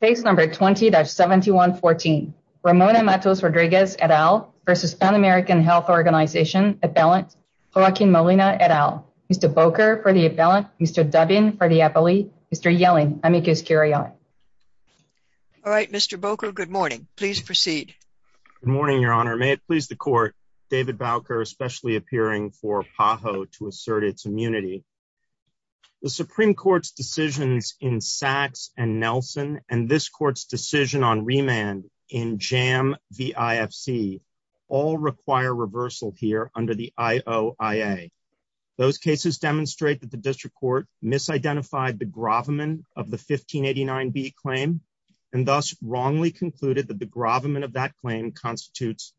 Case number 20-7114. Ramona Matos Rodriguez et al versus Pan American Health Organization appellant Joaquin Molina et al. Mr. Bowker for the appellant. Mr. Dubin for the appellee. Mr. Yelling, amicus curiae. All right, Mr. Bowker, good morning. Please proceed. Good morning, your honor. May it please the court. David Bowker especially appearing for and Nelson and this court's decision on remand in JAM v. IFC all require reversal here under the IOIA. Those cases demonstrate that the district court misidentified the grovelman of the 1589b claim and thus wrongly concluded that the grovelman of that claim constitutes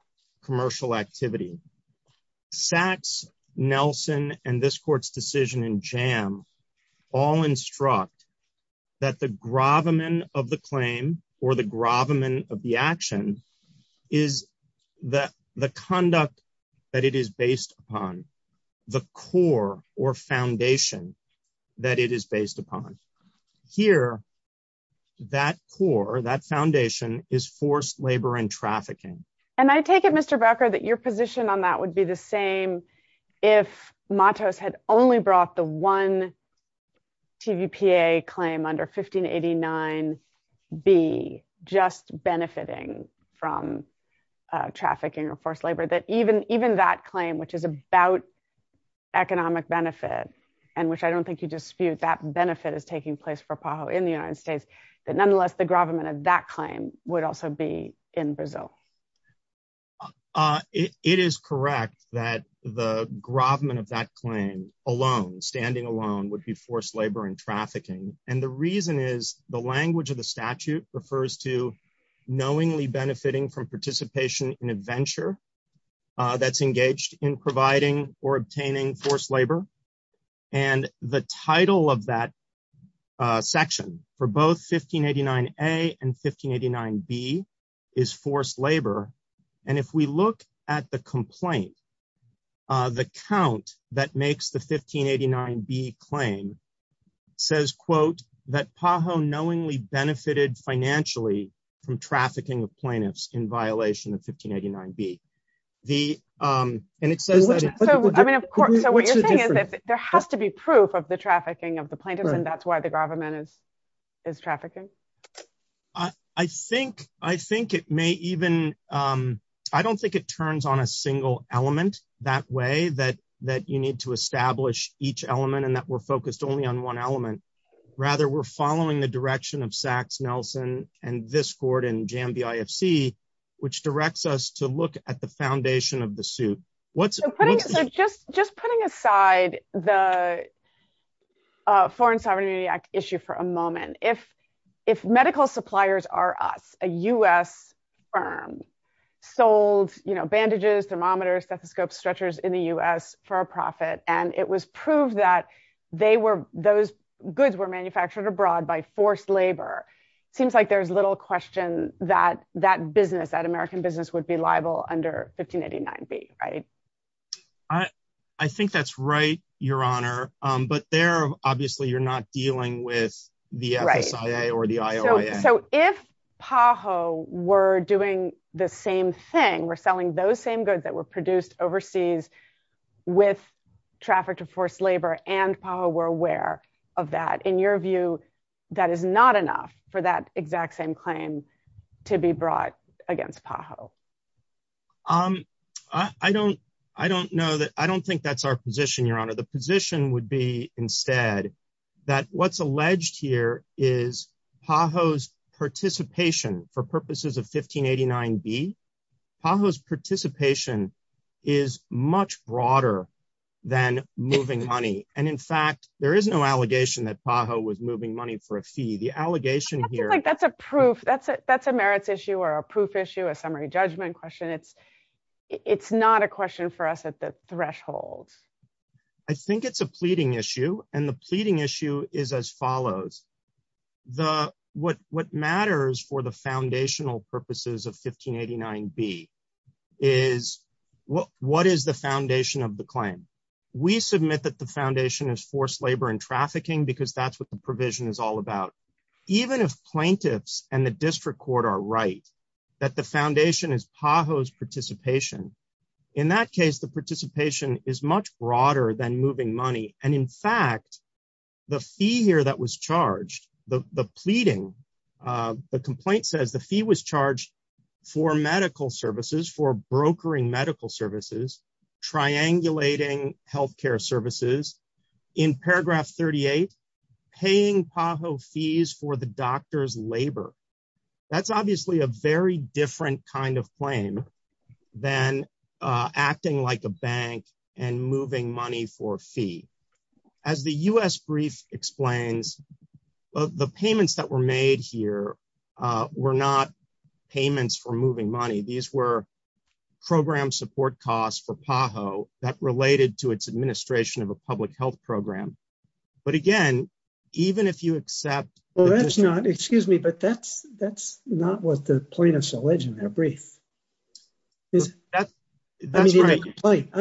commercial activity. Sachs, Nelson and this court's decision in JAM all instruct that the grovelman of the claim or the grovelman of the action is the conduct that it is based upon, the core or foundation that it is based upon. Here, that core, that foundation is forced labor and trafficking. And I take it, Mr. Bowker, that your position on that would be the same if Matos had only brought the one TVPA claim under 1589b just benefiting from trafficking or forced labor, that even even that claim, which is about economic benefit and which I don't think you dispute that benefit is taking place for PAHO in the United States, that nonetheless, the grovelman of that claim would also be in Brazil. It is correct that the grovelman of that claim alone, standing alone, would be forced labor and trafficking. And the reason is the language of the statute refers to knowingly benefiting from participation in a venture that's engaged in providing or obtaining forced labor. And the title of that section for both 1589a and 1589b is forced labor. And if we look at the complaint, the count that makes the 1589b claim says, quote, that PAHO knowingly benefited financially from trafficking of plaintiffs in violation of 1589b. And it says that... So what you're saying is that there has to be proof of the trafficking of the plaintiffs and that's why the grovelman is trafficking? I think it may even... I don't think it turns on a single element that way, that you need to establish each element and that we're focused only on one element. Rather, we're following the direction of Sachs, Nelson, and this board and foundation of the suit. Just putting aside the Foreign Sovereignty Act issue for a moment, if medical suppliers are us, a US firm sold bandages, thermometers, stethoscopes, stretchers in the US for a profit, and it was proved that those goods were manufactured abroad by forced labor, it seems like there's little question that that business, that American business would be under 1589b, right? I think that's right, Your Honor. But there, obviously, you're not dealing with the FSIA or the IOIA. So if PAHO were doing the same thing, were selling those same goods that were produced overseas with traffic to forced labor and PAHO were aware of that, in your view, that is not enough for that exact same claim to be brought against PAHO? I don't know that... I don't think that's our position, Your Honor. The position would be instead that what's alleged here is PAHO's participation for purposes of 1589b, PAHO's participation is much broader than moving money. And in fact, there is no allegation that PAHO was moving money for a fee. The allegation here... I don't think that's a proof, that's a merits issue, or a proof issue, a summary judgment question. It's not a question for us at the threshold. I think it's a pleading issue, and the pleading issue is as follows. What matters for the foundational purposes of 1589b is what is the foundation of the claim? We submit that the foundation is forced labor and trafficking because that's what the provision is all about. Even if plaintiffs and the district court are right, that the foundation is PAHO's participation. In that case, the participation is much broader than moving money. And in fact, the fee here that was charged, the pleading, the complaint says the fee was charged for medical services, for in paragraph 38, paying PAHO fees for the doctor's labor. That's obviously a very different kind of claim than acting like a bank and moving money for a fee. As the U.S. brief explains, the payments that were made here were not payments for moving money. These were program support costs for PAHO that related to its administration of a public health program. But again, even if you accept- Well, that's not, excuse me, but that's not what the plaintiffs allege in their brief. I'm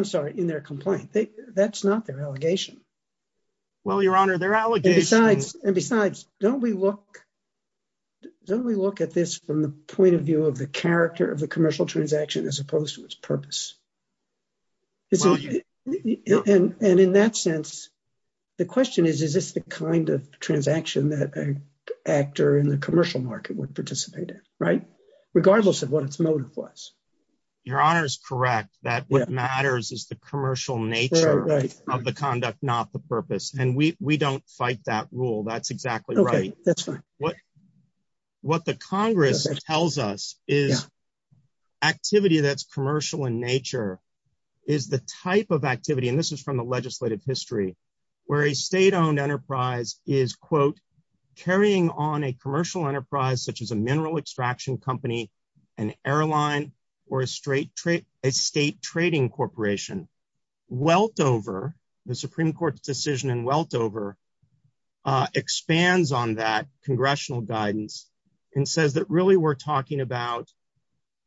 sorry, in their complaint. That's not their allegation. Well, Your Honor, their allegation- And besides, don't we look at this from the point of view of the character of the conduct? And in that sense, the question is, is this the kind of transaction that an actor in the commercial market would participate in, right? Regardless of what its motive was. Your Honor is correct that what matters is the commercial nature of the conduct, not the purpose. And we don't fight that rule. That's exactly right. What the Congress tells us is activity that's commercial in nature is the type of activity, and this is from the legislative history, where a state-owned enterprise is, quote, carrying on a commercial enterprise, such as a mineral extraction company, an airline, or a state trading corporation. Weltover, the Supreme Court's decision in Weltover, expands on that congressional guidance, and says that really we're talking about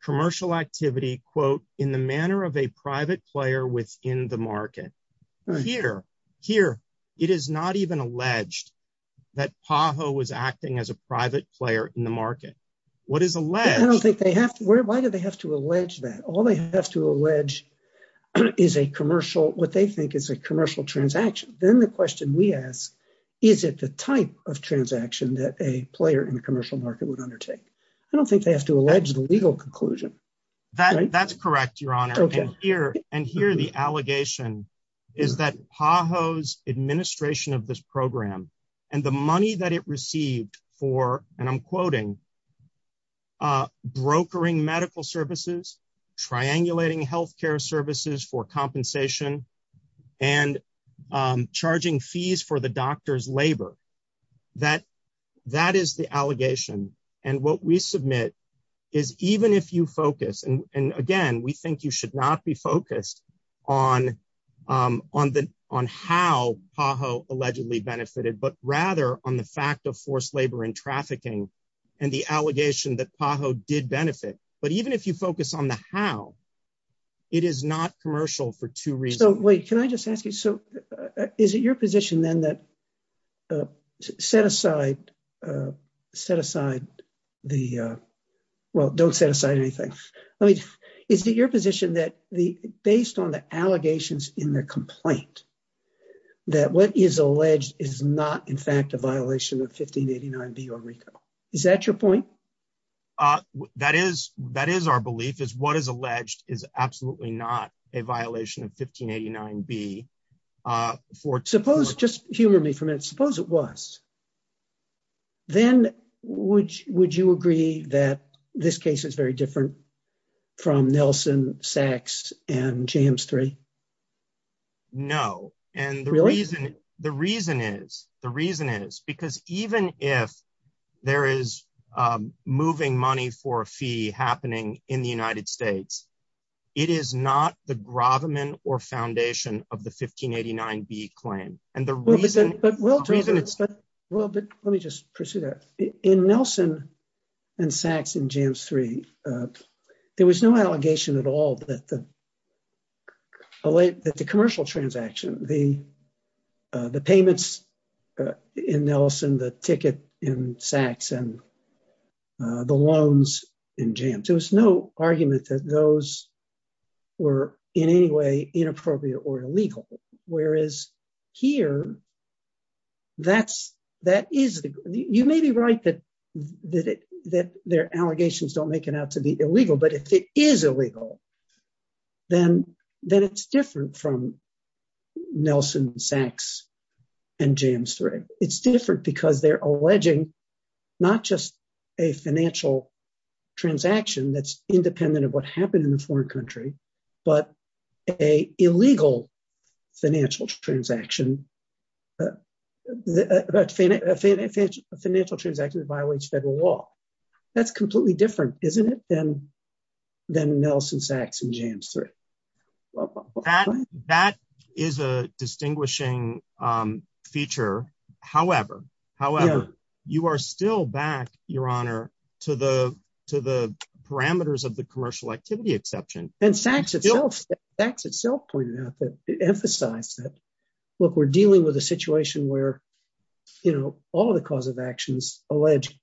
commercial activity, quote, in the manner of a private player within the market. Here, it is not even alleged that PAHO was acting as a private player in the market. What is alleged- I don't think they have to. Why do they have to allege that? All they have to allege is a commercial, what they think is a commercial transaction. Then the question we ask, is it the type of transaction that a player in the commercial market would undertake? I don't think they have to allege the legal conclusion. That's correct, Your Honor. And here, the allegation is that PAHO's administration of this program, and the money that it received for, and I'm quoting, brokering medical services, triangulating health care services for compensation, and charging fees for the doctor's labor. That is the allegation. And what we submit is even if you focus, and again, we think you should not be focused on how PAHO allegedly benefited, but rather on the fact of forced labor and trafficking, and the allegation that PAHO did benefit. But even if you focus on the how, it is not commercial for two reasons. Wait, can I just ask you, so is it your position then that set aside, set aside the, well, don't set aside anything. I mean, is it your position that based on the allegations in the complaint, that what is alleged is not in fact a violation of 1589B or RICO? Is that your point? That is our belief, is what is alleged is absolutely not a violation of 1589B. Suppose, just humor me for a minute, suppose it was. Then would you agree that this case is very different from Nelson, Sachs, and James III? No. And the reason is, the reason is, because even if there is moving money for a fee happening in the United States, it is not the gravamen or foundation of the 1589B claim. And the reason- Well, but let me just pursue that. In Nelson and Sachs and James III, there was no allegation at all that the commercial transaction, the payments in Nelson, the ticket in Sachs, and the loans in James, there was no argument that those were in any way inappropriate or illegal. Whereas here, that is, you may be right that their allegations don't make it out to be illegal. But if it is illegal, then it is different from Nelson, Sachs, and James III. It is different because they are alleging not just a financial transaction that is independent of what happened in a foreign country, but an illegal financial transaction that violates federal law. That is completely different, isn't it, than Nelson, Sachs, and James III? That is a distinguishing feature. However, you are still back, Your Honor, to the parameters of the commercial activity exception. And Sachs itself pointed out that it emphasized that, look, we are dealing with a situation where all the cause of actions allege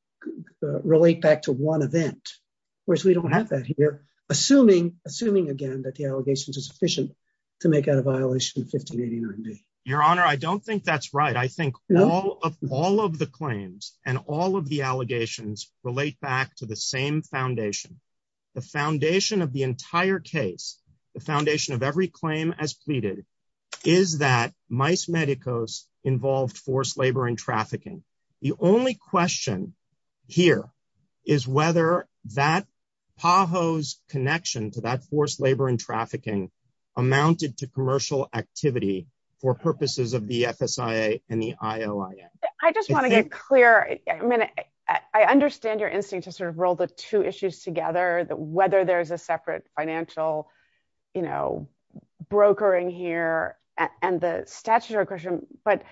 relate back to one event, whereas we do not have that here, assuming, again, that the allegations are sufficient to make out a violation of 1589B. Your Honor, I do not think that is right. I think all of the claims and all of the allegations relate back to the same foundation. The foundation of the entire case, the foundation of every claim as pleaded, is that Mice Medicus involved forced labor and trafficking. The only question here is whether PAHO's connection to that forced labor and trafficking amounted to commercial activity for purposes of the FSIA and the IOIA. I just want to get clear. I mean, I understand your instinct to sort of roll the two issues together, whether there is a separate financial, you know, brokering here and the statutory question, but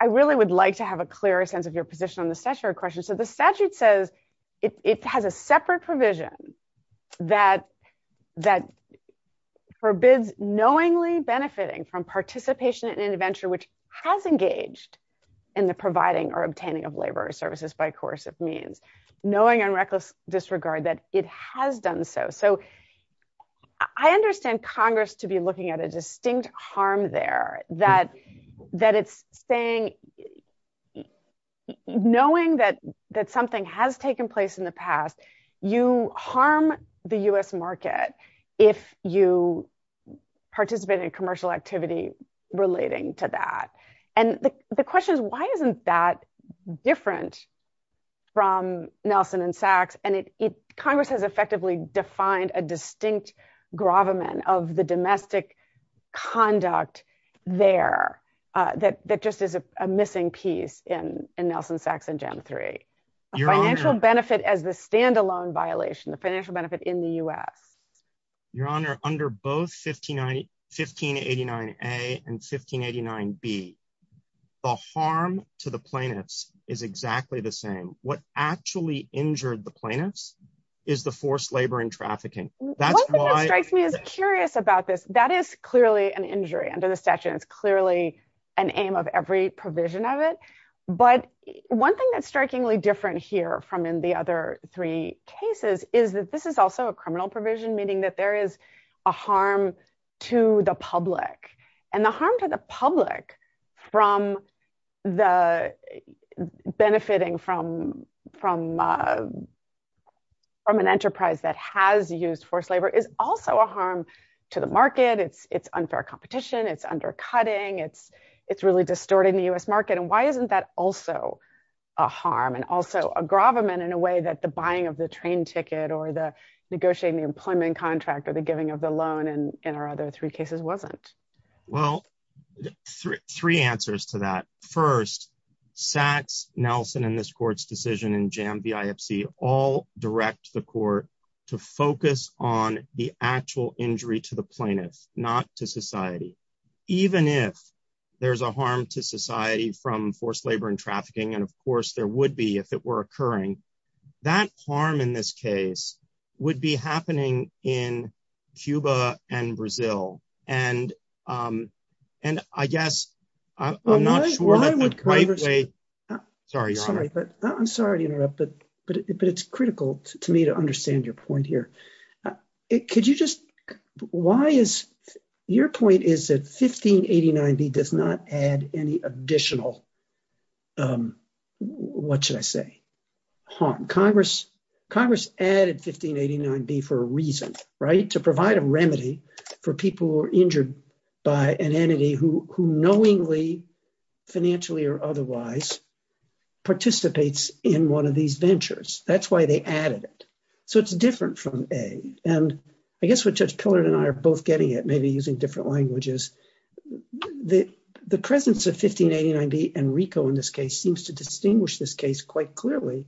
I really would like to have a clearer sense of your position on the statutory question. So the statute says it has a separate provision that forbids knowingly which has engaged in the providing or obtaining of labor services by coercive means, knowing and reckless disregard that it has done so. So I understand Congress to be looking at a distinct harm there, that it's saying, knowing that something has taken place in the past, you harm the U.S. market if you participate in commercial activity relating to that. And the question is, why isn't that different from Nelson and Sachs? And Congress has effectively defined a distinct gravamen of the domestic conduct there that just is a missing piece in Nelson, Sachs, and Gen III. A financial benefit as the standalone violation, the financial benefit in the U.S. Your Honor, under both 1589A and 1589B, the harm to the plaintiffs is exactly the same. What actually injured the plaintiffs is the forced labor and trafficking. One thing that strikes me as curious about this, that is clearly an injury under the statute. It's clearly an aim of every provision of it. But one thing that's strikingly different here from in the other three cases is that this is also a criminal provision, meaning that there is a harm to the public. And the harm to the public from benefiting from an enterprise that has used forced labor is also a harm to the market. It's unfair competition. It's undercutting. It's really distorting the U.S. market. And why isn't that also a harm and also a gravamen in a way that the buying of the train ticket or the negotiating the employment contract or the giving of the loan in our other three cases wasn't? Well, three answers to that. First, Sachs, Nelson, and this to focus on the actual injury to the plaintiffs, not to society. Even if there's a harm to society from forced labor and trafficking, and of course there would be if it were occurring, that harm in this case would be happening in Cuba and Brazil. And I guess I'm not sure that the I'm sorry to interrupt, but it's critical to me to understand your point here. Why is your point is that 1589B does not add any additional, what should I say, harm? Congress added 1589B for a reason, right? To provide a remedy for people who are injured by an entity who knowingly, financially or otherwise, participates in one of these ventures. That's why they added it. So it's different from A. And I guess what Judge Pillard and I are both getting at, maybe using different languages, the presence of 1589B and RICO in this case seems to distinguish this case quite clearly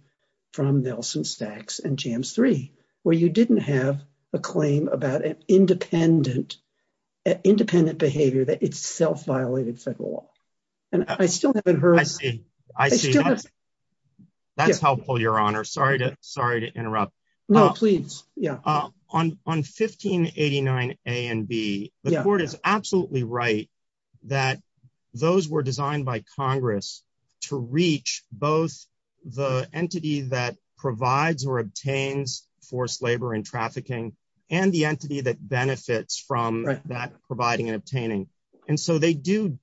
from Nelson, Sachs, and JAMS III, where you didn't have a claim about an independent behavior that itself violated federal law. And I still haven't heard- I see. That's helpful, Your Honor. Sorry to interrupt. No, please. Yeah. On 1589A and B, the court is absolutely right that those were designed by forced labor and trafficking and the entity that benefits from that providing and obtaining. And so they do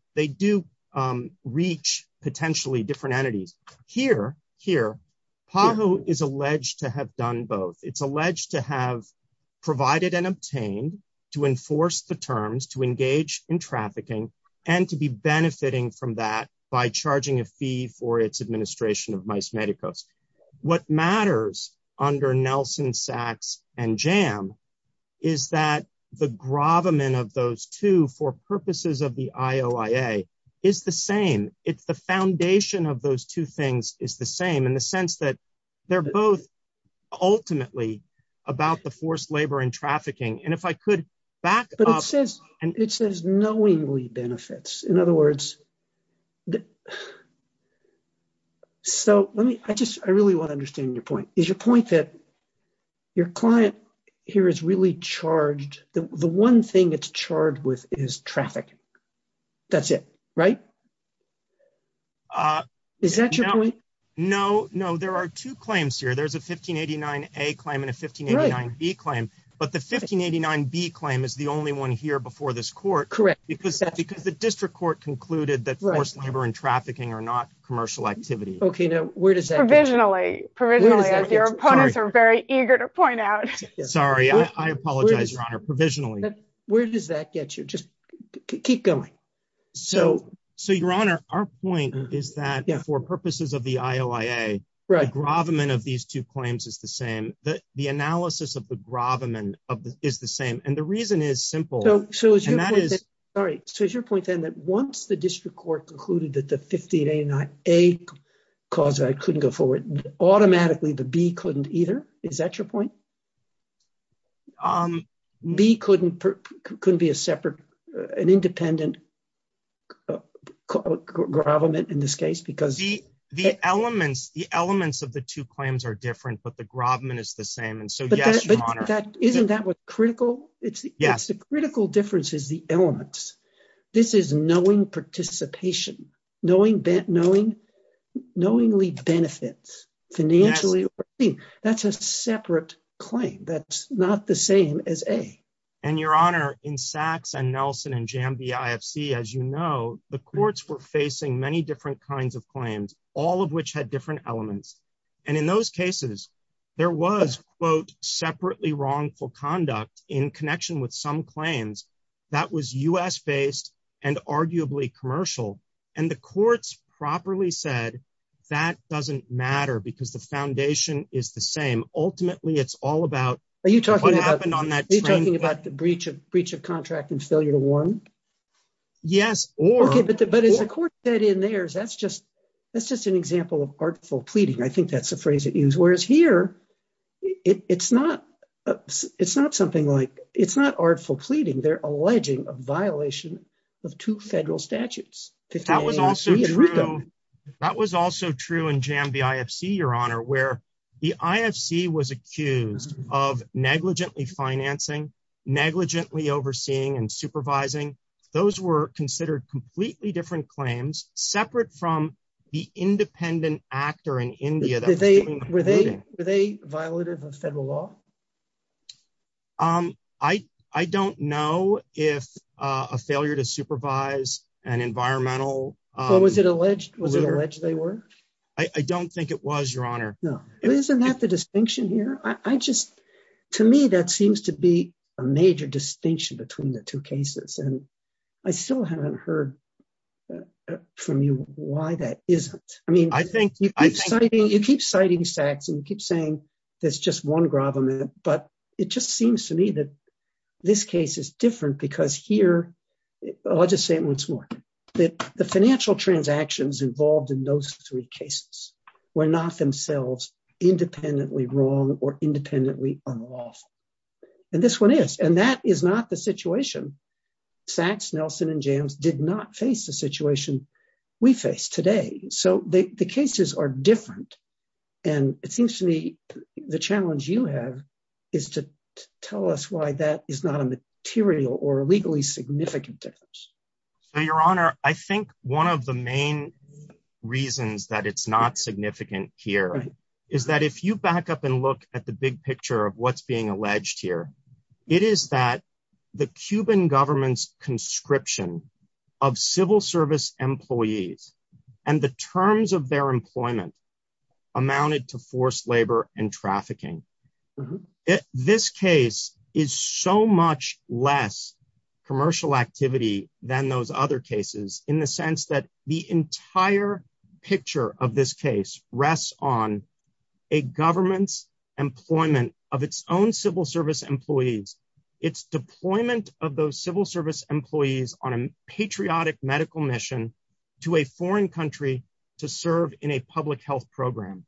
reach potentially different entities. Here, PAHO is alleged to have done both. It's alleged to have provided and obtained to enforce the terms to engage in trafficking and to be benefiting from that by charging a fee for its administration of Mice Medicus. What matters under Nelson, Sachs, and JAMS is that the gravamen of those two for purposes of the IOIA is the same. It's the foundation of those two things is the same in the sense that they're both ultimately about the forced labor and trafficking. And if I could back up- benefits. I really want to understand your point. Is your point that your client here is really charged- the one thing it's charged with is traffic. That's it, right? Is that your point? No, no. There are two claims here. There's a 1589A claim and a 1589B claim, but the 1589B claim is the only one here before this court because the district court concluded that forced labor and trafficking are not commercial activity. Okay, now where does that- Provisionally. Provisionally, as your opponents are very eager to point out. Sorry. I apologize, Your Honor. Provisionally. Where does that get you? Just keep going. So, Your Honor, our point is that for purposes of the IOIA, the gravamen of these two claims is the same. The analysis of the gravamen is the same. And the reason is simple. So, is your point then that once the district court concluded that the 1589A cause- I couldn't go forward- automatically the B couldn't either? Is that your point? B couldn't be a separate- an independent gravamen in this case because- The elements of the two claims are different, but the gravamen is the same. And so, yes, Your Honor. But isn't that what's critical? Yes. It's the critical difference is the elements. This is knowing participation, knowingly benefits financially. That's a separate claim. That's not the same as A. And, Your Honor, in Sachs and Nelson and Jambi IFC, as you know, the courts were facing many different kinds of claims, all of which had different elements. And in those cases, there was, quote, separately wrongful conduct in connection with some claims that was U.S. based and arguably commercial. And the courts properly said that doesn't matter because the foundation is the same. Ultimately, it's all about what happened on that- Are you talking about the breach of contract and failure to warn? Yes, or- Okay, but as the court said in theirs, that's just- that's just an example of artful pleading. I think that's the phrase it used. Whereas here, it's not- it's not something like- it's not artful pleading. They're alleging a violation of two federal statutes. That was also true in Jambi IFC, Your Honor, where the IFC was accused of negligently financing, negligently overseeing and supervising. Those were considered completely different claims, separate from the independent actor in India- Were they- were they- were they violative of federal law? I- I don't know if a failure to supervise an environmental- Was it alleged- was it alleged they were? I don't think it was, Your Honor. No. Isn't that the distinction here? I just- A major distinction between the two cases, and I still haven't heard from you why that isn't. I mean- I think- You keep citing- you keep citing Sachs, and you keep saying there's just one gravamen, but it just seems to me that this case is different because here- I'll just say it once more- that the financial transactions involved in those three cases were not themselves independently wrong or independently unlawful. And this one is, and that is not the situation Sachs, Nelson, and Jams did not face the situation we face today. So the cases are different, and it seems to me the challenge you have is to tell us why that is not a material or legally significant difference. So, Your Honor, I think one of the main reasons that it's not significant here is that if you back up and look at the big picture of what's being alleged here, it is that the Cuban government's conscription of civil service employees and the terms of their employment amounted to forced labor and trafficking. This case is so much less commercial activity than those other cases in the sense that the entire picture of this case rests on a government's employment of its own civil service employees, its deployment of those civil service employees on a patriotic medical mission to a foreign country to serve in a public health program.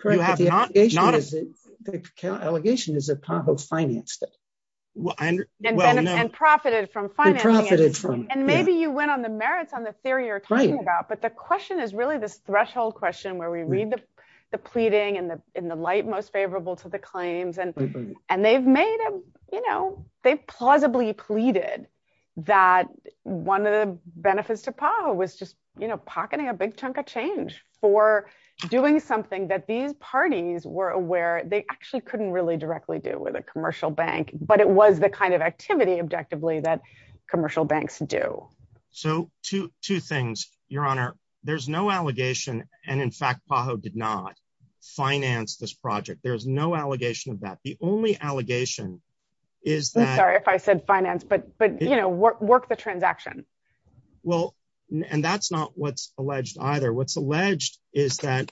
Correct, but the allegation is that Congress financed it. And profited from financing it. And maybe you went on the merits on the theory you're talking about, but the question is really this threshold question where we read the pleading in the light most favorable to the claims, and they've made a, you know, they've plausibly pleaded that one of the benefits to power was just, you know, pocketing a big chunk of change for doing something that these parties were aware they actually couldn't really directly do with a kind of activity objectively that commercial banks do. So two things, Your Honor. There's no allegation, and in fact, PAHO did not finance this project. There's no allegation of that. The only allegation is that... I'm sorry if I said finance, but, you know, work the transaction. Well, and that's not what's alleged either. What's alleged is that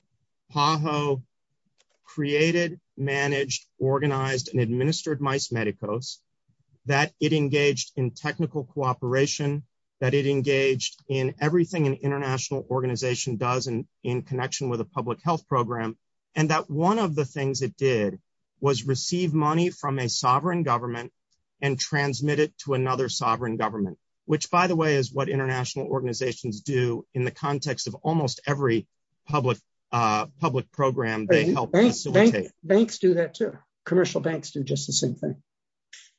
PAHO created, managed, organized, and administered MICE Medicos, that it engaged in technical cooperation, that it engaged in everything an international organization does in connection with a public health program, and that one of the things it did was receive money from a sovereign government and transmit it to another sovereign government, which, by the way, is what international organizations do in the context of almost every public program they help facilitate. Banks do that too. Commercial banks do just the same thing.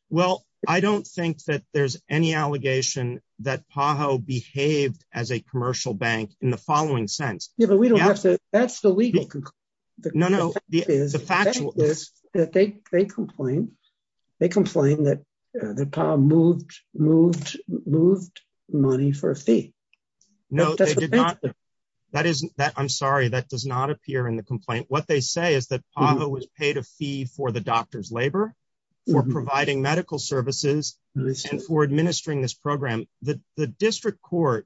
Well, I don't think that there's any allegation that PAHO behaved as a commercial bank in the following sense. Yeah, but we don't have to... That's the legal conclusion. No, no. The fact is that they complain. They complain that PAHO moved money for a fee. No, they did not. I'm sorry. That does not appear in the complaint. What they say is that PAHO was paid a fee for the doctor's labor, for providing medical services, and for administering this program. The district court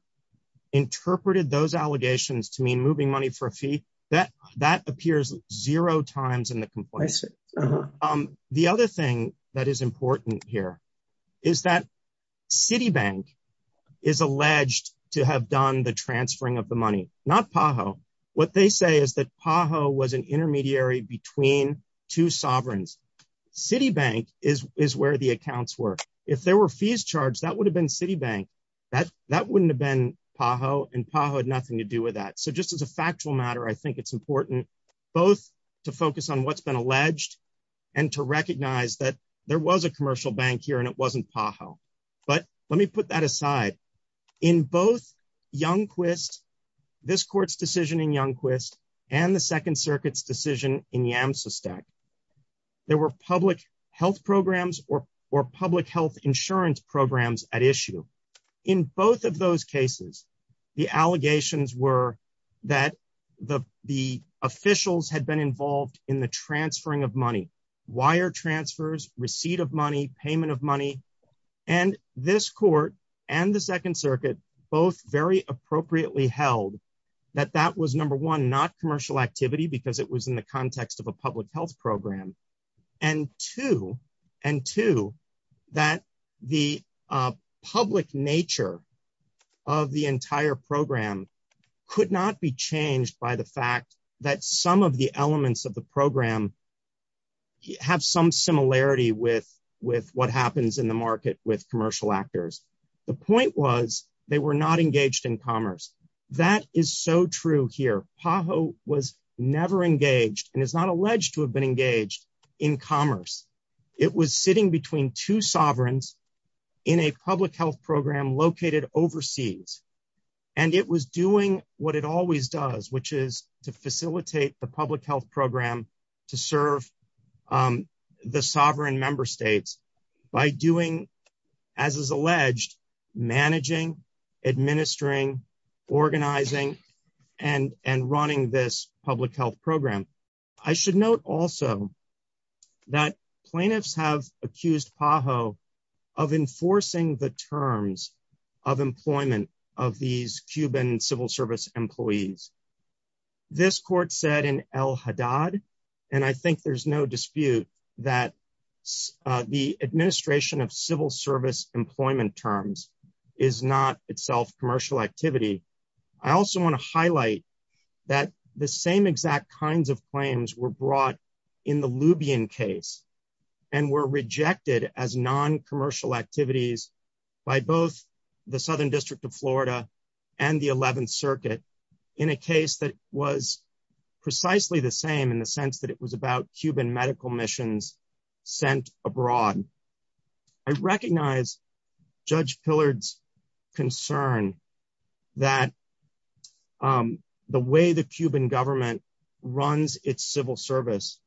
interpreted those allegations to mean moving money for a fee. That appears zero times in the complaint. The other thing that is important here is that Citibank is alleged to have done the transferring of the money, not PAHO. What they say is that between two sovereigns. Citibank is where the accounts were. If there were fees charged, that would have been Citibank. That wouldn't have been PAHO, and PAHO had nothing to do with that. Just as a factual matter, I think it's important both to focus on what's been alleged and to recognize that there was a commercial bank here and it wasn't PAHO. Let me put that aside. In both Youngquist, this court's decision in Youngquist and the Second Circuit's decision in Yamsistak, there were public health programs or public health insurance programs at issue. In both of those cases, the allegations were that the officials had been involved in the transferring of money, wire transfers, receipt of money, payment of money, and this court and Second Circuit both very appropriately held that that was number one, not commercial activity because it was in the context of a public health program, and two, that the public nature of the entire program could not be changed by the fact that some of the elements of the program have some similarity with what happens in the market with commercial actors. The point was they were not engaged in commerce. That is so true here. PAHO was never engaged and is not alleged to have been engaged in commerce. It was sitting between two sovereigns in a public health program located overseas, and it was doing what it always does, which is to facilitate the managing, administering, organizing, and running this public health program. I should note also that plaintiffs have accused PAHO of enforcing the terms of employment of these Cuban civil service employees. This court said in El Haddad, and I think there's no dispute that the administration of civil service employment terms is not itself commercial activity. I also want to highlight that the same exact kinds of claims were brought in the Lubion case and were rejected as non-commercial activities by both the Southern District of Florida and the Eleventh Circuit in a case that was precisely the same in the sense that it was about Cuban medical missions sent abroad. I recognize Judge Pillard's concern that the way the Cuban government runs its civil service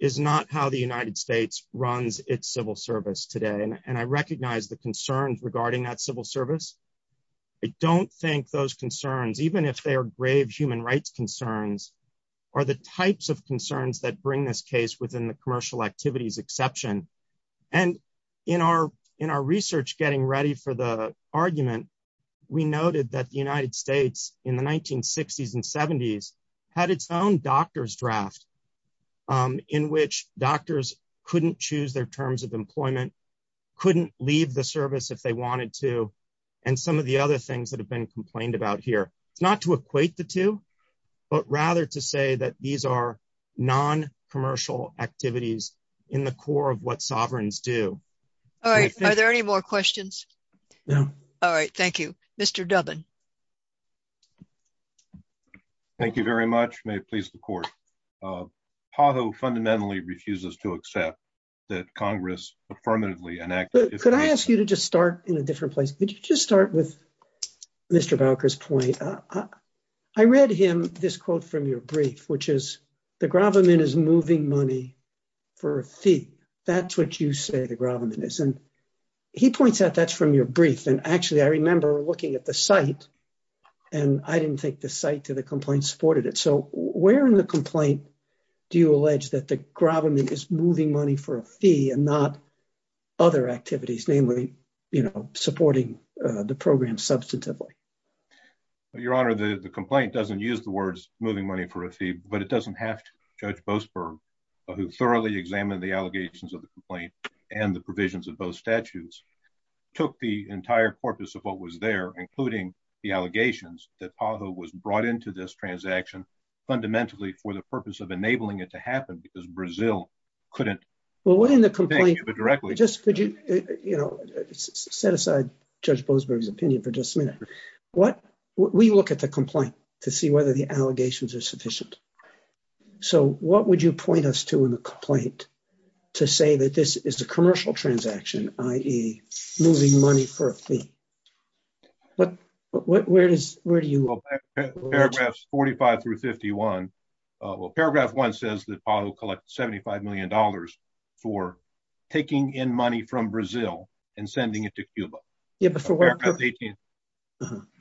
is not how the United States runs its civil service today, and I recognize the concerns regarding that civil service. I don't think those concerns, even if they are exception. In our research getting ready for the argument, we noted that the United States in the 1960s and 70s had its own doctor's draft in which doctors couldn't choose their terms of employment, couldn't leave the service if they wanted to, and some of the other things that have been complained about here. It's not to equate the two, but rather to say that these are non-commercial activities in the core of what sovereigns do. All right. Are there any more questions? No. All right. Thank you. Mr. Dubbin. Thank you very much. May it please the court. PAHO fundamentally refuses to accept that Congress affirmatively enacted... Could I ask you to just start in a different place? Could you just start with Mr. Bowker's point? I read him this quote from your brief, which is gravamen is moving money for a fee. That's what you say the gravamen is. He points out that's from your brief. Actually, I remember looking at the site, and I didn't think the site to the complaint supported it. Where in the complaint do you allege that the gravamen is moving money for a fee and not other activities, namely supporting the program substantively? Your Honor, the complaint doesn't use the words moving money for a fee, but it doesn't have to. Judge Boasberg, who thoroughly examined the allegations of the complaint and the provisions of both statutes, took the entire corpus of what was there, including the allegations that PAHO was brought into this transaction fundamentally for the purpose of enabling it to happen because Brazil couldn't... Well, what in the complaint... Thank you, but directly... Just could you set aside Judge Boasberg's opinion for just a to see whether the allegations are sufficient? So, what would you point us to in the complaint to say that this is a commercial transaction, i.e. moving money for a fee? But where do you... Paragraphs 45 through 51. Well, paragraph one says that PAHO collects 75 million dollars for taking in money from Brazil and sending it to Cuba. Yeah, but for...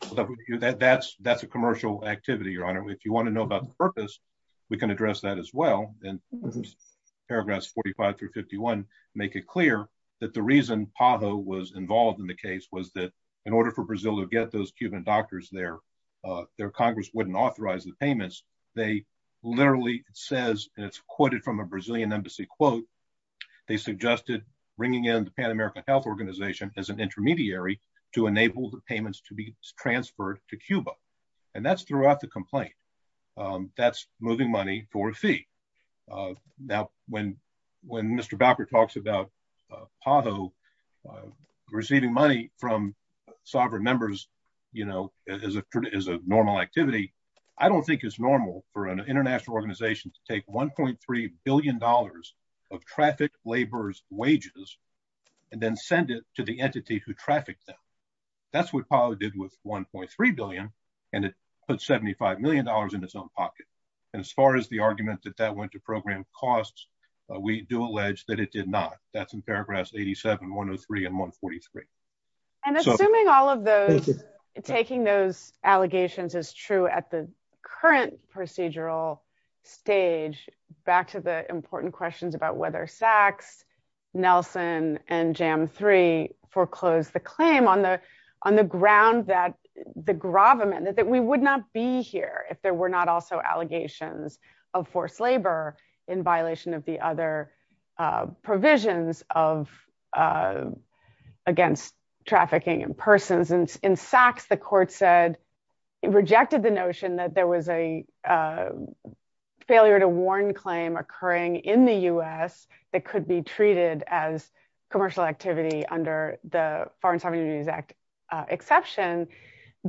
That's a commercial activity, Your Honor. If you want to know about the purpose, we can address that as well. And paragraphs 45 through 51 make it clear that the reason PAHO was involved in the case was that in order for Brazil to get those Cuban doctors there, their Congress wouldn't authorize the payments. They literally says, and it's quoted from a Brazilian embassy quote, they suggested bringing in the Pan-American Health Organization as an intermediary to enable the payments to be transferred to Cuba. And that's throughout the complaint. That's moving money for a fee. Now, when Mr. Bowker talks about PAHO receiving money from sovereign members, you know, as a normal activity, I don't think it's normal for an international organization to take 1.3 billion dollars of trafficked laborers' wages and then to the entity who trafficked them. That's what PAHO did with 1.3 billion, and it put 75 million dollars in its own pocket. And as far as the argument that that went to program costs, we do allege that it did not. That's in paragraphs 87, 103, and 143. And assuming all of those, taking those allegations is true at the current procedural stage. Back to the important questions about whether Sachs, Nelson, and Jam 3 foreclosed the claim on the ground that the gravamen, that we would not be here if there were not also allegations of forced labor in violation of the other provisions of, against trafficking in Sachs, the court said it rejected the notion that there was a failure to warn claim occurring in the U.S. that could be treated as commercial activity under the Foreign Sovereign Unions Act exception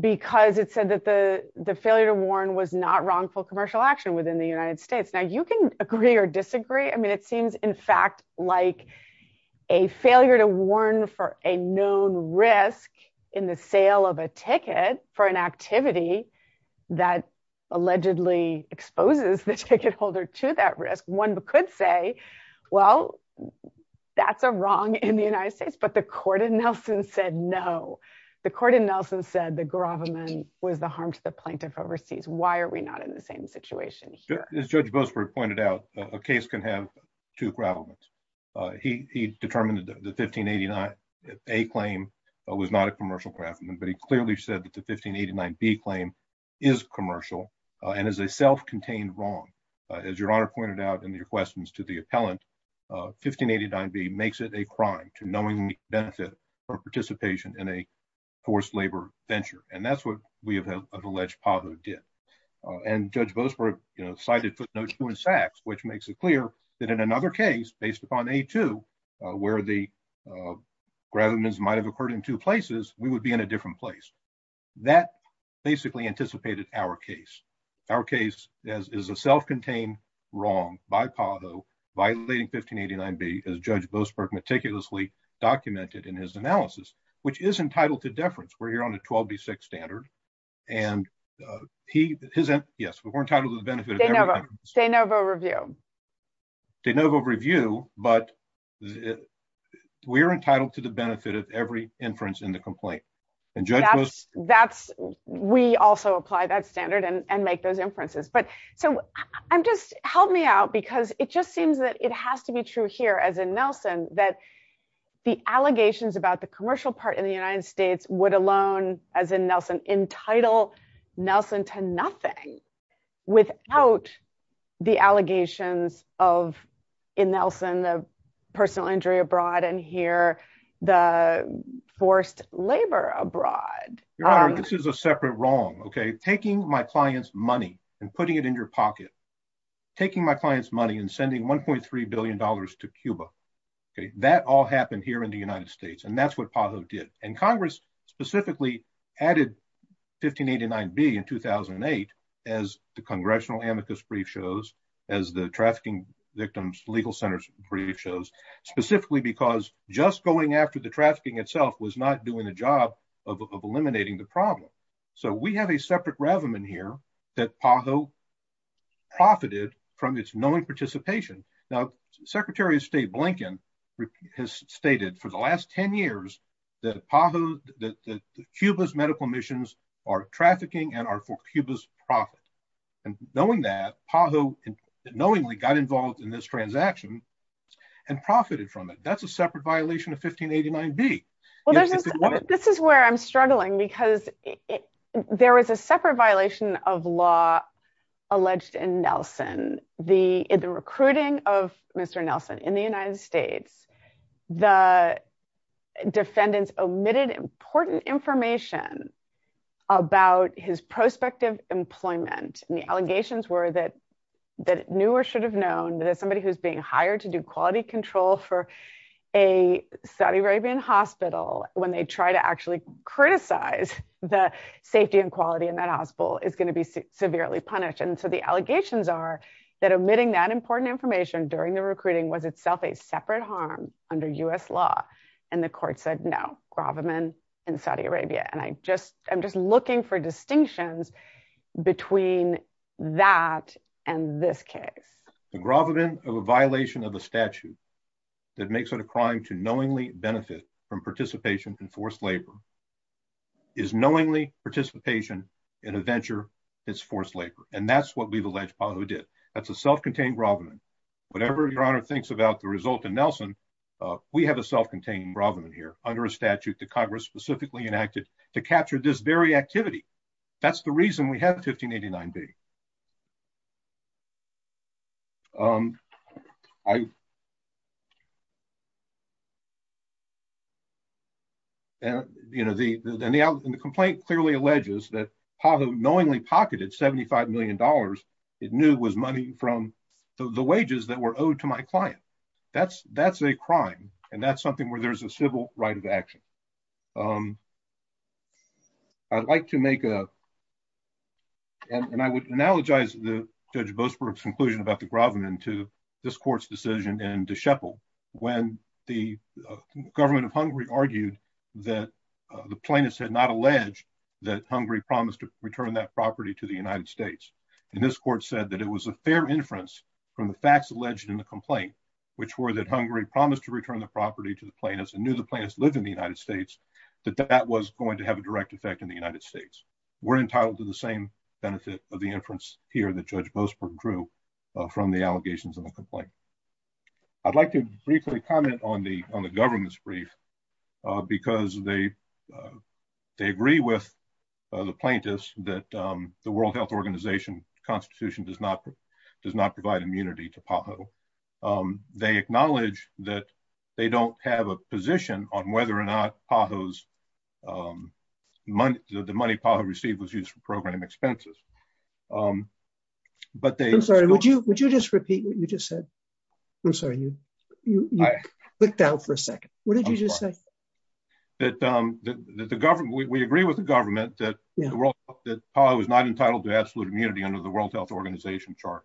because it said that the failure to warn was not wrongful commercial action within the United States. Now, you can agree or disagree. I mean, it seems in fact like a failure to warn for a known risk in the sale of a ticket for an activity that allegedly exposes the ticket holder to that risk. One could say, well, that's a wrong in the United States, but the court in Nelson said no. The court in Nelson said the gravamen was the harm to the plaintiff overseas. Why are we not in the same situation here? As Judge Boasberg pointed out, a case can have two gravamen. He determined the 1589A claim was not a commercial gravamen, but he clearly said that the 1589B claim is commercial and is a self-contained wrong. As Your Honor pointed out in your questions to the appellant, 1589B makes it a crime to knowingly benefit from participation in a forced labor venture, and that's what we have alleged Pavo did. And Judge Boasberg, you know, cited footnotes which makes it clear that in another case, based upon A2, where the gravamen might have occurred in two places, we would be in a different place. That basically anticipated our case. Our case is a self-contained wrong by Pavo violating 1589B, as Judge Boasberg meticulously documented in his analysis, which is entitled to deference. We're here on a 12B6 standard, and he, his, yes, we're entitled to the benefit of everything. De novo review. De novo review, but we're entitled to the benefit of every inference in the complaint, and Judge Boasberg. That's, we also apply that standard and make those inferences, but so I'm just, help me out, because it just seems that it has to be true here, as in Nelson, that the allegations about the commercial part in the United States would alone, as in Nelson, entitle Nelson to nothing without the allegations of, in Nelson, the personal injury abroad, and here the forced labor abroad. Your Honor, this is a separate wrong, okay? Taking my client's money and putting it in your pocket, taking my client's money and sending 1.3 billion dollars to Cuba, okay, that all happened here in the United States, and that's what Pavo did. And Congress specifically added 1589B in 2008, as the congressional amicus brief shows, as the trafficking victims legal centers brief shows, specifically because just going after the trafficking itself was not doing the job of eliminating the problem. So we have a separate raven in here that Pavo profited from its knowing participation. Now Secretary of State Blinken has stated for the last 10 years that Pavo, that Cuba's medical missions are trafficking and are for Cuba's profit, and knowing that, Pavo knowingly got involved in this transaction and profited from it. That's a separate violation of 1589B. Well, this is where I'm struggling, because there is a separate violation of law alleged in Nelson. The recruiting of Mr. Nelson in the United States, the defendants omitted important information about his prospective employment, and the allegations were that it knew or should have known that as somebody who's being hired to do quality control for a Saudi Arabian hospital, when they try to actually criticize the safety and quality in that hospital, is going to be severely punished. And so the allegations are that omitting that important information during the recruiting was itself a separate harm under U.S. law. And the court said, no, gravamen in Saudi Arabia. And I'm just looking for distinctions between that and this case. The gravamen of a violation of a statute that makes it a crime to knowingly benefit from participation in forced labor is knowingly participation in a venture that's forced labor. And that's what we've alleged Pavo did. That's a self-contained gravamen. Whatever Your Honor thinks about the result in Nelson, we have a self-contained gravamen here under a statute that Congress specifically enacted to capture this very activity. That's the reason we have 1589B. And the complaint clearly alleges that Pavo knowingly pocketed $75 million it knew was money from the wages that were owed to my client. That's a crime and that's something where there's a civil right of action. I'd like to make a, and I would analogize the Judge Boasberg's conclusion about the gravamen to this court's decision in De Schepel when the government of Hungary argued that the plaintiffs had not alleged that Hungary promised to return that property to the United States. And this court said that it was a fair inference from the facts alleged in the complaint, which were that Hungary promised to return the property to the plaintiffs and knew the plaintiffs lived in the United States, that that was going to have a direct effect in the United States. We're entitled to the same benefit of the inference here that Judge Boasberg drew from the allegations of the complaint. I'd like to briefly comment on the government's brief because they agree with the plaintiffs that the World Health Organization Constitution does not they acknowledge that they don't have a position on whether or not PAHO's money, the money PAHO received was used for program expenses. I'm sorry, would you just repeat what you just said? I'm sorry, you clicked out for a second. What did you just say? We agree with the government that PAHO is not entitled to absolute immunity under the World Health Organization chart.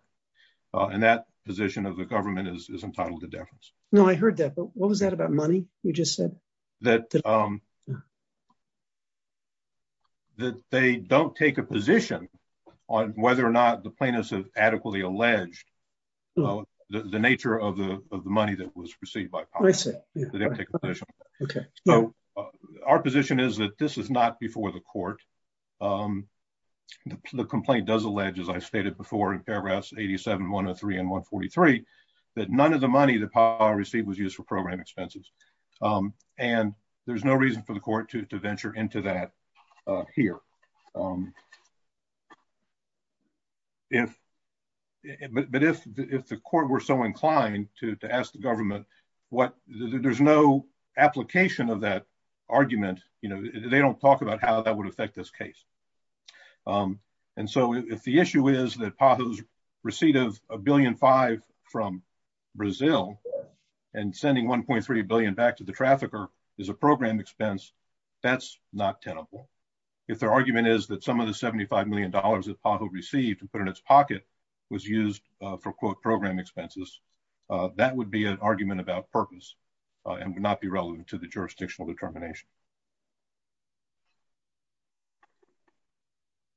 And that position of government is entitled to deference. No, I heard that. But what was that about money? You just said that they don't take a position on whether or not the plaintiffs have adequately alleged the nature of the money that was received by PAHO. So our position is that this is not before the court. The complaint does allege, as I stated before in paragraphs 87, 103, and 143, that none of the money that PAHO received was used for program expenses. And there's no reason for the court to venture into that here. But if the court were so inclined to ask the government, there's no application of that would affect this case. And so if the issue is that PAHO's receipt of $1.5 billion from Brazil and sending $1.3 billion back to the trafficker is a program expense, that's not tenable. If their argument is that some of the $75 million that PAHO received and put in its pocket was used for quote program expenses, that would be an argument about purpose and would not be relevant to the jurisdictional determination.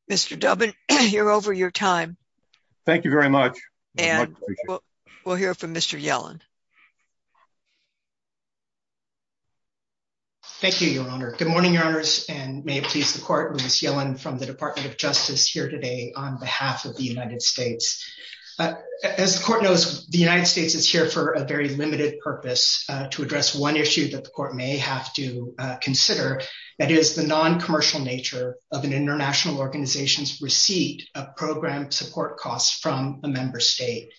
Mr. Dubbin, you're over your time. Thank you very much. We'll hear from Mr. Yellen. Thank you, Your Honor. Good morning, Your Honors, and may it please the court, Louis Yellen from the Department of Justice here today on behalf of the United States. As the court knows, the United States is here for a very limited purpose to address one issue that the court may have to consider, that is the non-commercial nature of an international organization's receipt of program support costs from a member state.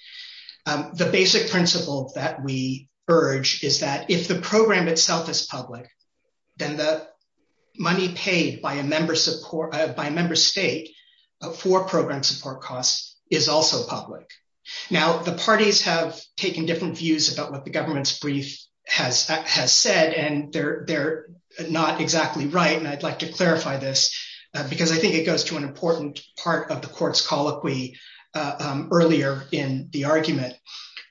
The basic principle that we urge is that if the program itself is public, then the money paid by a member state for program support costs is also public. Now, the parties have taken different views about what the government's brief has said, and they're not exactly right, and I'd like to clarify this because I think it goes to an important part of the court's colloquy earlier in the argument.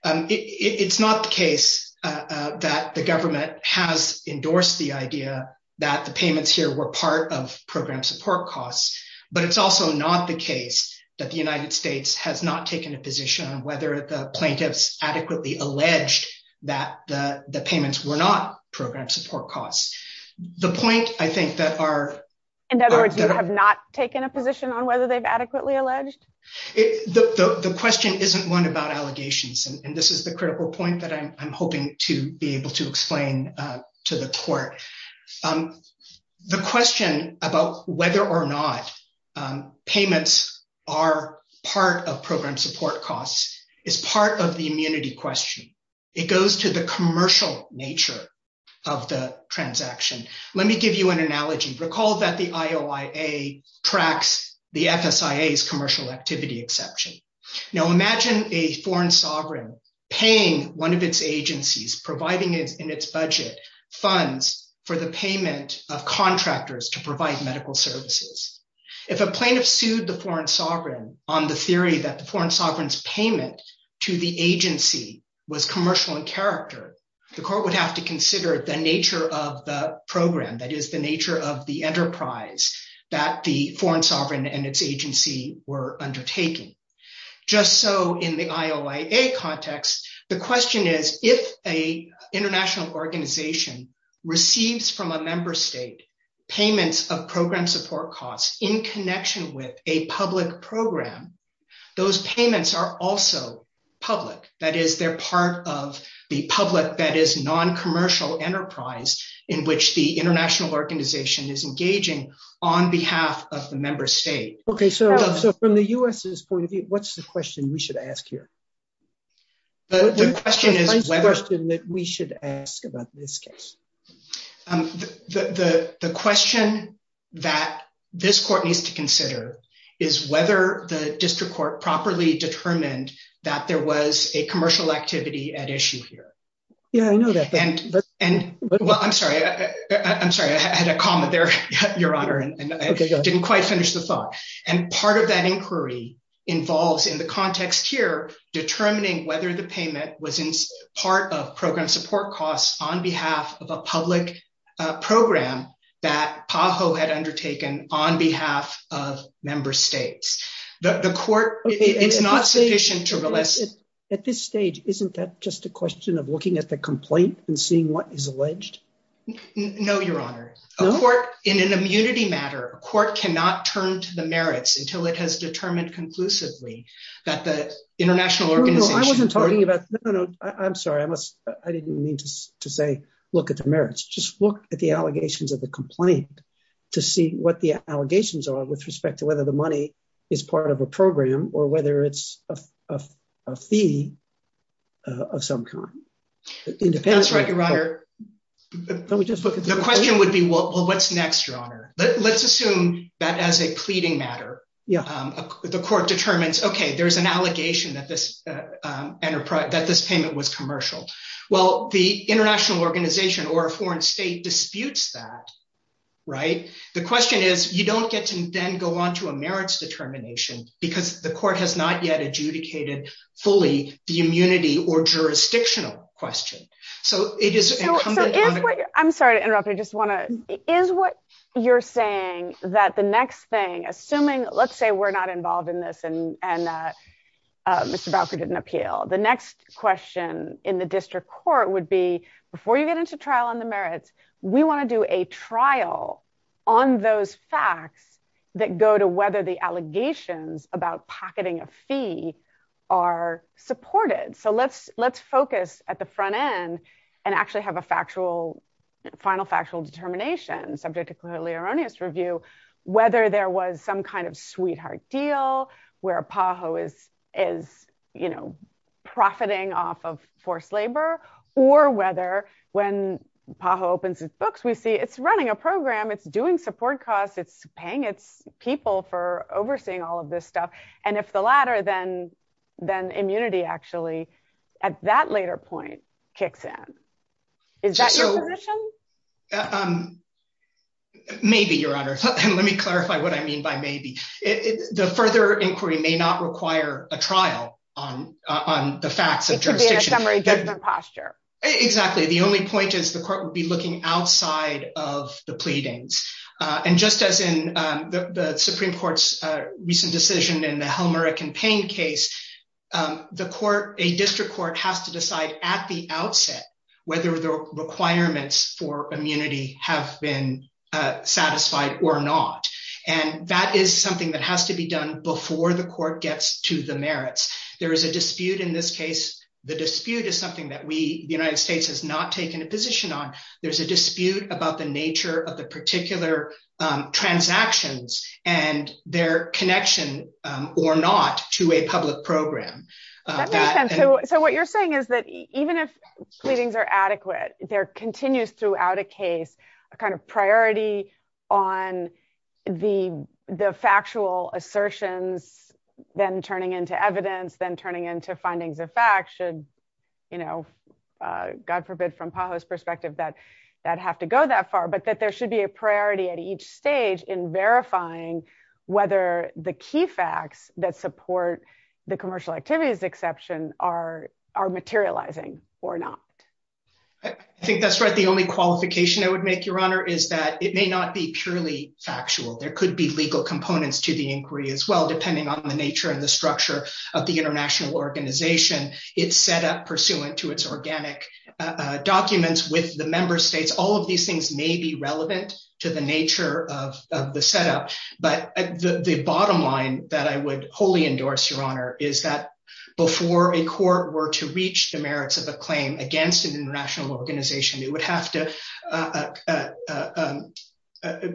It's not the case that the government has endorsed the idea that the payments here were part of program support costs, but it's also not the case that the United States has not taken a position on whether the plaintiffs adequately alleged that the payments were not program support costs. The point, I think, that our... In other words, you have not taken a position on whether they've adequately alleged? The question isn't one about allegations, and this is the critical point that I'm hoping to be able to explain to the court. The question about whether or not payments are part of program support costs is part of the immunity question. It goes to the commercial nature of the transaction. Let me give you an analogy. Recall that the IOIA tracks the FSIA's commercial activity exception. Now, imagine a foreign sovereign paying one of its agencies, providing in its budget funds for the payment of contractors to provide medical services. If a plaintiff sued the foreign sovereign on the theory that the foreign sovereign's payment to the agency was commercial in character, the court would have to consider the nature of the program, that is, the nature of the enterprise that the foreign sovereign and its agency were undertaking. Just so in the IOIA context, the question is, if an international organization receives from a member state payments of program support costs in connection with a public program, those payments are also public, that is, they're part of the public, that is, non-commercial enterprise in which the international organization is engaging on behalf of the member state. Okay, so from the U.S.'s point of view, what's the question we should ask here? The question is whether... What's the first question that we should ask about this case? The question that this court needs to consider is whether the district court properly determined that there was a commercial activity at issue here. Yeah, I know that. And, well, I'm sorry, I'm sorry, I had a comma there, Your Honor, and I didn't quite finish the thought. And part of that inquiry involves, in the context here, determining whether the payment was in part of program support costs on behalf of a public program that PAHO had undertaken on behalf of member states. The court, it's not sufficient to... At this stage, isn't that just a question of looking at the complaint and seeing what is alleged? No, Your Honor. A court, in an immunity matter, a court cannot turn to the merits until it has determined conclusively that the international organization... No, no, I wasn't talking about... No, no, no, I'm sorry, I didn't mean to say look at the merits. Just look at the allegations of the complaint to see what the allegations are with respect to whether the money is part of a program or whether it's a fee of some kind. That's right, Your Honor. The question would be, well, what's next, Your Honor? Let's assume that as a pleading matter, the court determines, okay, there's an allegation that this payment was commercial. Well, the international organization or a foreign state disputes that, right? The question is, you don't get to then go on to a merits determination because the court has not yet adjudicated fully the immunity or jurisdictional question. I'm sorry to interrupt. I just want to... Is what you're saying that the next thing, assuming, let's say we're not involved in this and Mr. Bowker didn't appeal. The next question in the district court would be, before you get into trial on the merits, we want to do a trial on those facts that go to whether the allegations about pocketing a fee are supported. Let's focus at the front end and actually have a final factual determination, subject to clearly erroneous review, whether there was some kind of sweetheart deal, where PAHO is profiting off of forced labor, or whether when PAHO opens its books, it's running a program, it's doing support costs, it's paying its people for overseeing all of this stuff. If the latter, then immunity actually, at that later point, kicks in. Is that your position? Maybe, Your Honor. Let me clarify what I mean by maybe. The further inquiry may not require a trial on the facts of jurisdiction. It could be in a summary judgment posture. Exactly. The only point is the court would be looking outside of the pleadings. Just as in the Supreme Court's recent decision in the Helmera campaign case, a district court has to decide at the outset whether the requirements for immunity have been satisfied or not. That is something that has to be done before the court gets to the merits. There is a dispute in this case. The dispute is something that the United States has not taken a position on. There's a dispute about the nature of the particular transactions and their connection or not to a public program. What you're saying is that even if pleadings are adequate, there continues throughout a case, a kind of priority on the factual assertions, then turning into evidence, then turning into findings of fact should, God forbid from PAHO's perspective, that have to go that far. There should be a priority at each stage in verifying whether the key facts that support the commercial activities exception are materializing or not. I think that's right. The only qualification I would make, Your Honor, is that it may not be purely factual. There could be legal components to the inquiry as well, depending on the nature and the structure of the international organization, its setup pursuant to its organic documents with the member states. All of these things may be relevant to the nature of the setup. The bottom line that I would wholly endorse, Your Honor, is that before a court were to reach the merits of a claim against an international organization, it would have to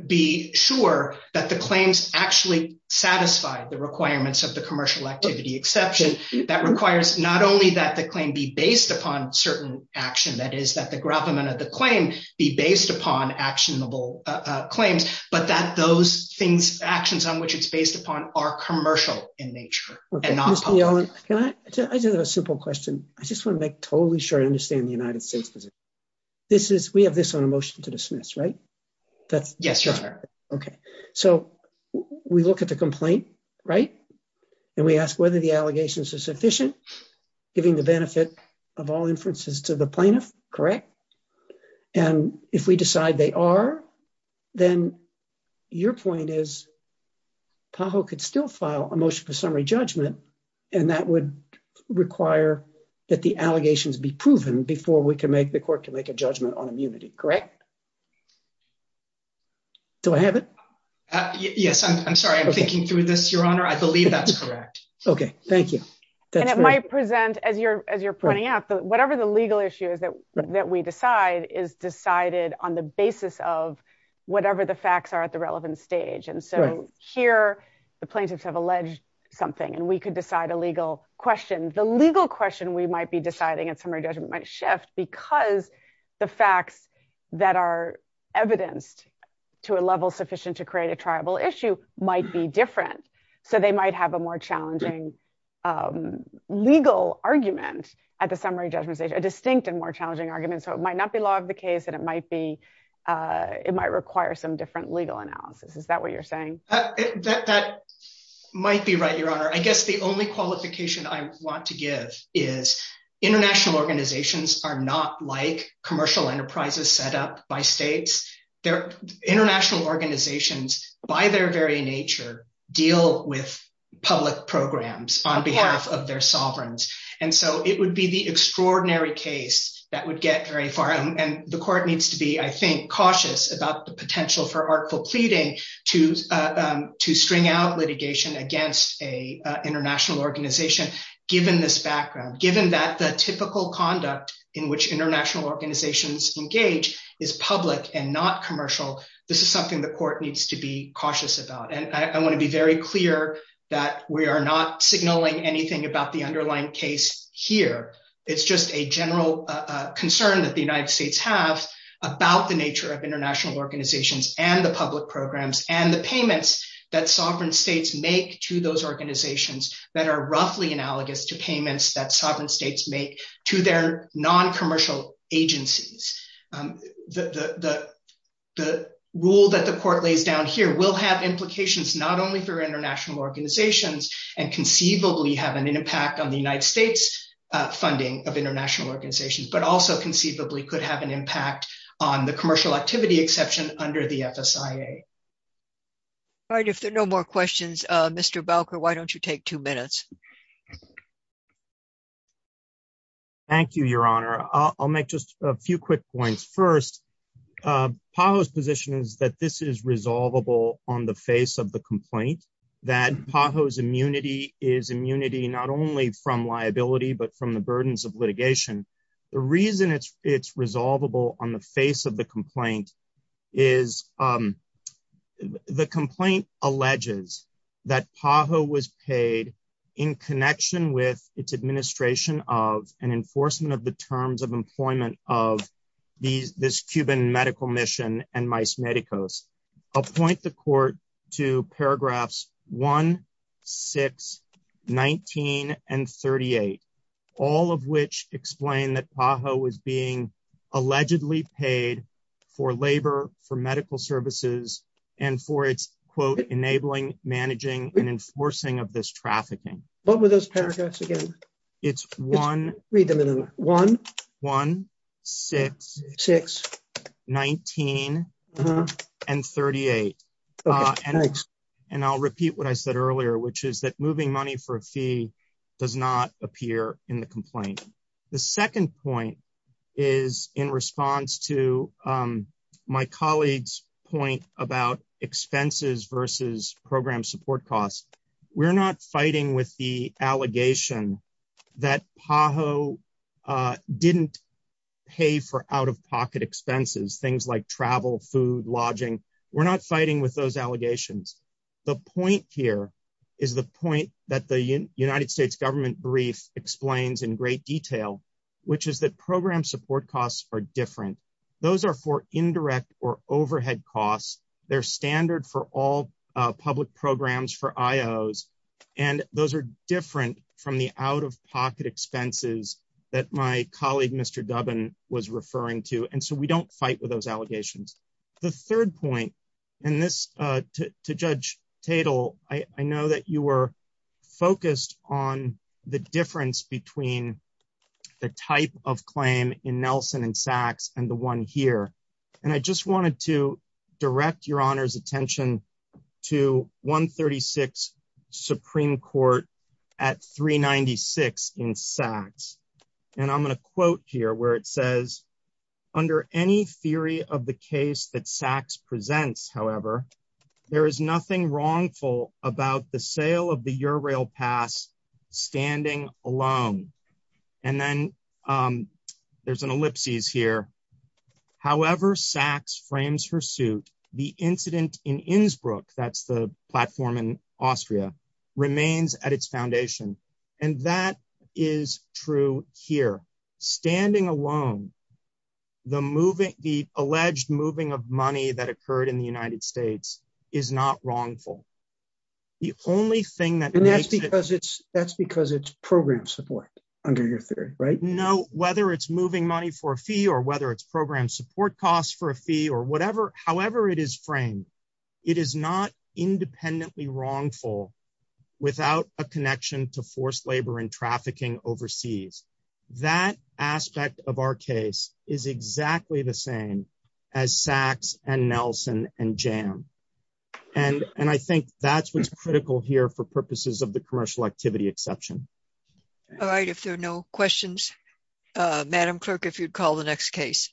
be sure that the claims actually satisfy the requirements of the commercial activity exception. That requires not only that the claim be based upon certain action, that is, that the gravamen of the claim be based upon actionable claims, but that those things, actions on which it's based upon, are commercial in nature and not public. Mr. Yellen, I just have a simple question. I just want to make totally sure I understand the United States position. We have this on a motion to dismiss, right? Yes, Your Honor. Okay. So we look at the complaint, right? And we ask whether the allegations are sufficient, giving the benefit of all inferences to the plaintiff, correct? And if we decide they are, then your point is PAHO could still file a motion for summary judgment, and that would require that allegations be proven before the court can make a judgment on immunity, correct? Do I have it? Yes. I'm sorry. I'm thinking through this, Your Honor. I believe that's correct. Okay. Thank you. And it might present, as you're pointing out, whatever the legal issue is that we decide is decided on the basis of whatever the facts are at the relevant stage. And so here, the plaintiffs have alleged something, and we could decide a legal question. The legal question we might be deciding at summary judgment might shift because the facts that are evidenced to a level sufficient to create a triable issue might be different. So they might have a more challenging legal argument at the summary judgment stage, a distinct and more challenging argument. So it might not be law of the case, and it might require some different legal analysis. Is that what you're saying? That might be right, Your Honor. I guess the only qualification I want to give is international organizations are not like commercial enterprises set up by states. International organizations, by their very nature, deal with public programs on behalf of their sovereigns. And so it would be the extraordinary case that would get very far. And the court needs to be, I think, cautious about the potential for artful pleading to string out litigation against an international organization, given this background, given that the typical conduct in which international organizations engage is public and not commercial. This is something the court needs to be cautious about. And I want to be very clear that we are not signaling anything about the underlying case here. It's just a general concern that the United States have about the nature of international organizations and the public programs and the payments that sovereign states make to those organizations that are roughly analogous to payments that sovereign states make to their non-commercial agencies. The rule that the court lays down here will have implications not only for international organizations and conceivably have an impact on the United States funding of international organizations, but also conceivably could have an impact on the commercial activity under the FSIA. If there are no more questions, Mr. Belker, why don't you take two minutes? Thank you, Your Honor. I'll make just a few quick points. First, PAHO's position is that this is resolvable on the face of the complaint, that PAHO's immunity is immunity not only from liability, but from the burdens of litigation. The reason it's resolvable on the face of the is the complaint alleges that PAHO was paid in connection with its administration of an enforcement of the terms of employment of this Cuban medical mission and MICE Medicos. I'll point the court to paragraphs 1, 6, 19, and 38, all of which explain that PAHO was being paid for labor, for medical services, and for its, quote, enabling, managing, and enforcing of this trafficking. What were those paragraphs again? It's 1, 6, 19, and 38. I'll repeat what I said earlier, which is that moving money for a fee does not appear in the complaint. The second point is in response to my colleague's point about expenses versus program support costs. We're not fighting with the allegation that PAHO didn't pay for out-of-pocket expenses, things like travel, food, lodging. We're not fighting with those allegations. The point here is the point that the United States government brief explains in great detail, which is that program support costs are different. Those are for indirect or overhead costs. They're standard for all public programs for IOs, and those are different from the out-of-pocket expenses that my colleague, Mr. Dubin, was referring to, and so we don't fight with those allegations. The third point, and this, to Judge Tatel, I know that you were focused on the difference between the type of claim in Nelson and Sachs and the one here, and I just wanted to direct your honor's attention to 136 Supreme Court at 396 in Sachs, and I'm going to quote here where it says, under any theory of the case that Sachs presents, however, there is nothing wrongful about the sale of the Ural Pass standing alone, and then there's an ellipsis here. However Sachs frames her suit, the incident in Innsbruck, that's the platform in Austria, remains at its foundation, and that is true here. Standing alone, the alleged moving of money that occurred in the United States is not wrongful. The only thing that makes it... And that's because it's program support under your theory, right? No, whether it's moving money for a fee or whether it's program support costs for a fee or whatever, however it is framed, it is not independently wrongful without a connection to forced labor and trafficking overseas. That aspect of our case is exactly the same as Sachs and Nelson and Jam, and I think that's what's critical here for purposes of the commercial activity exception. All right, if there are no questions, Madam Clerk, if you'd call the next case.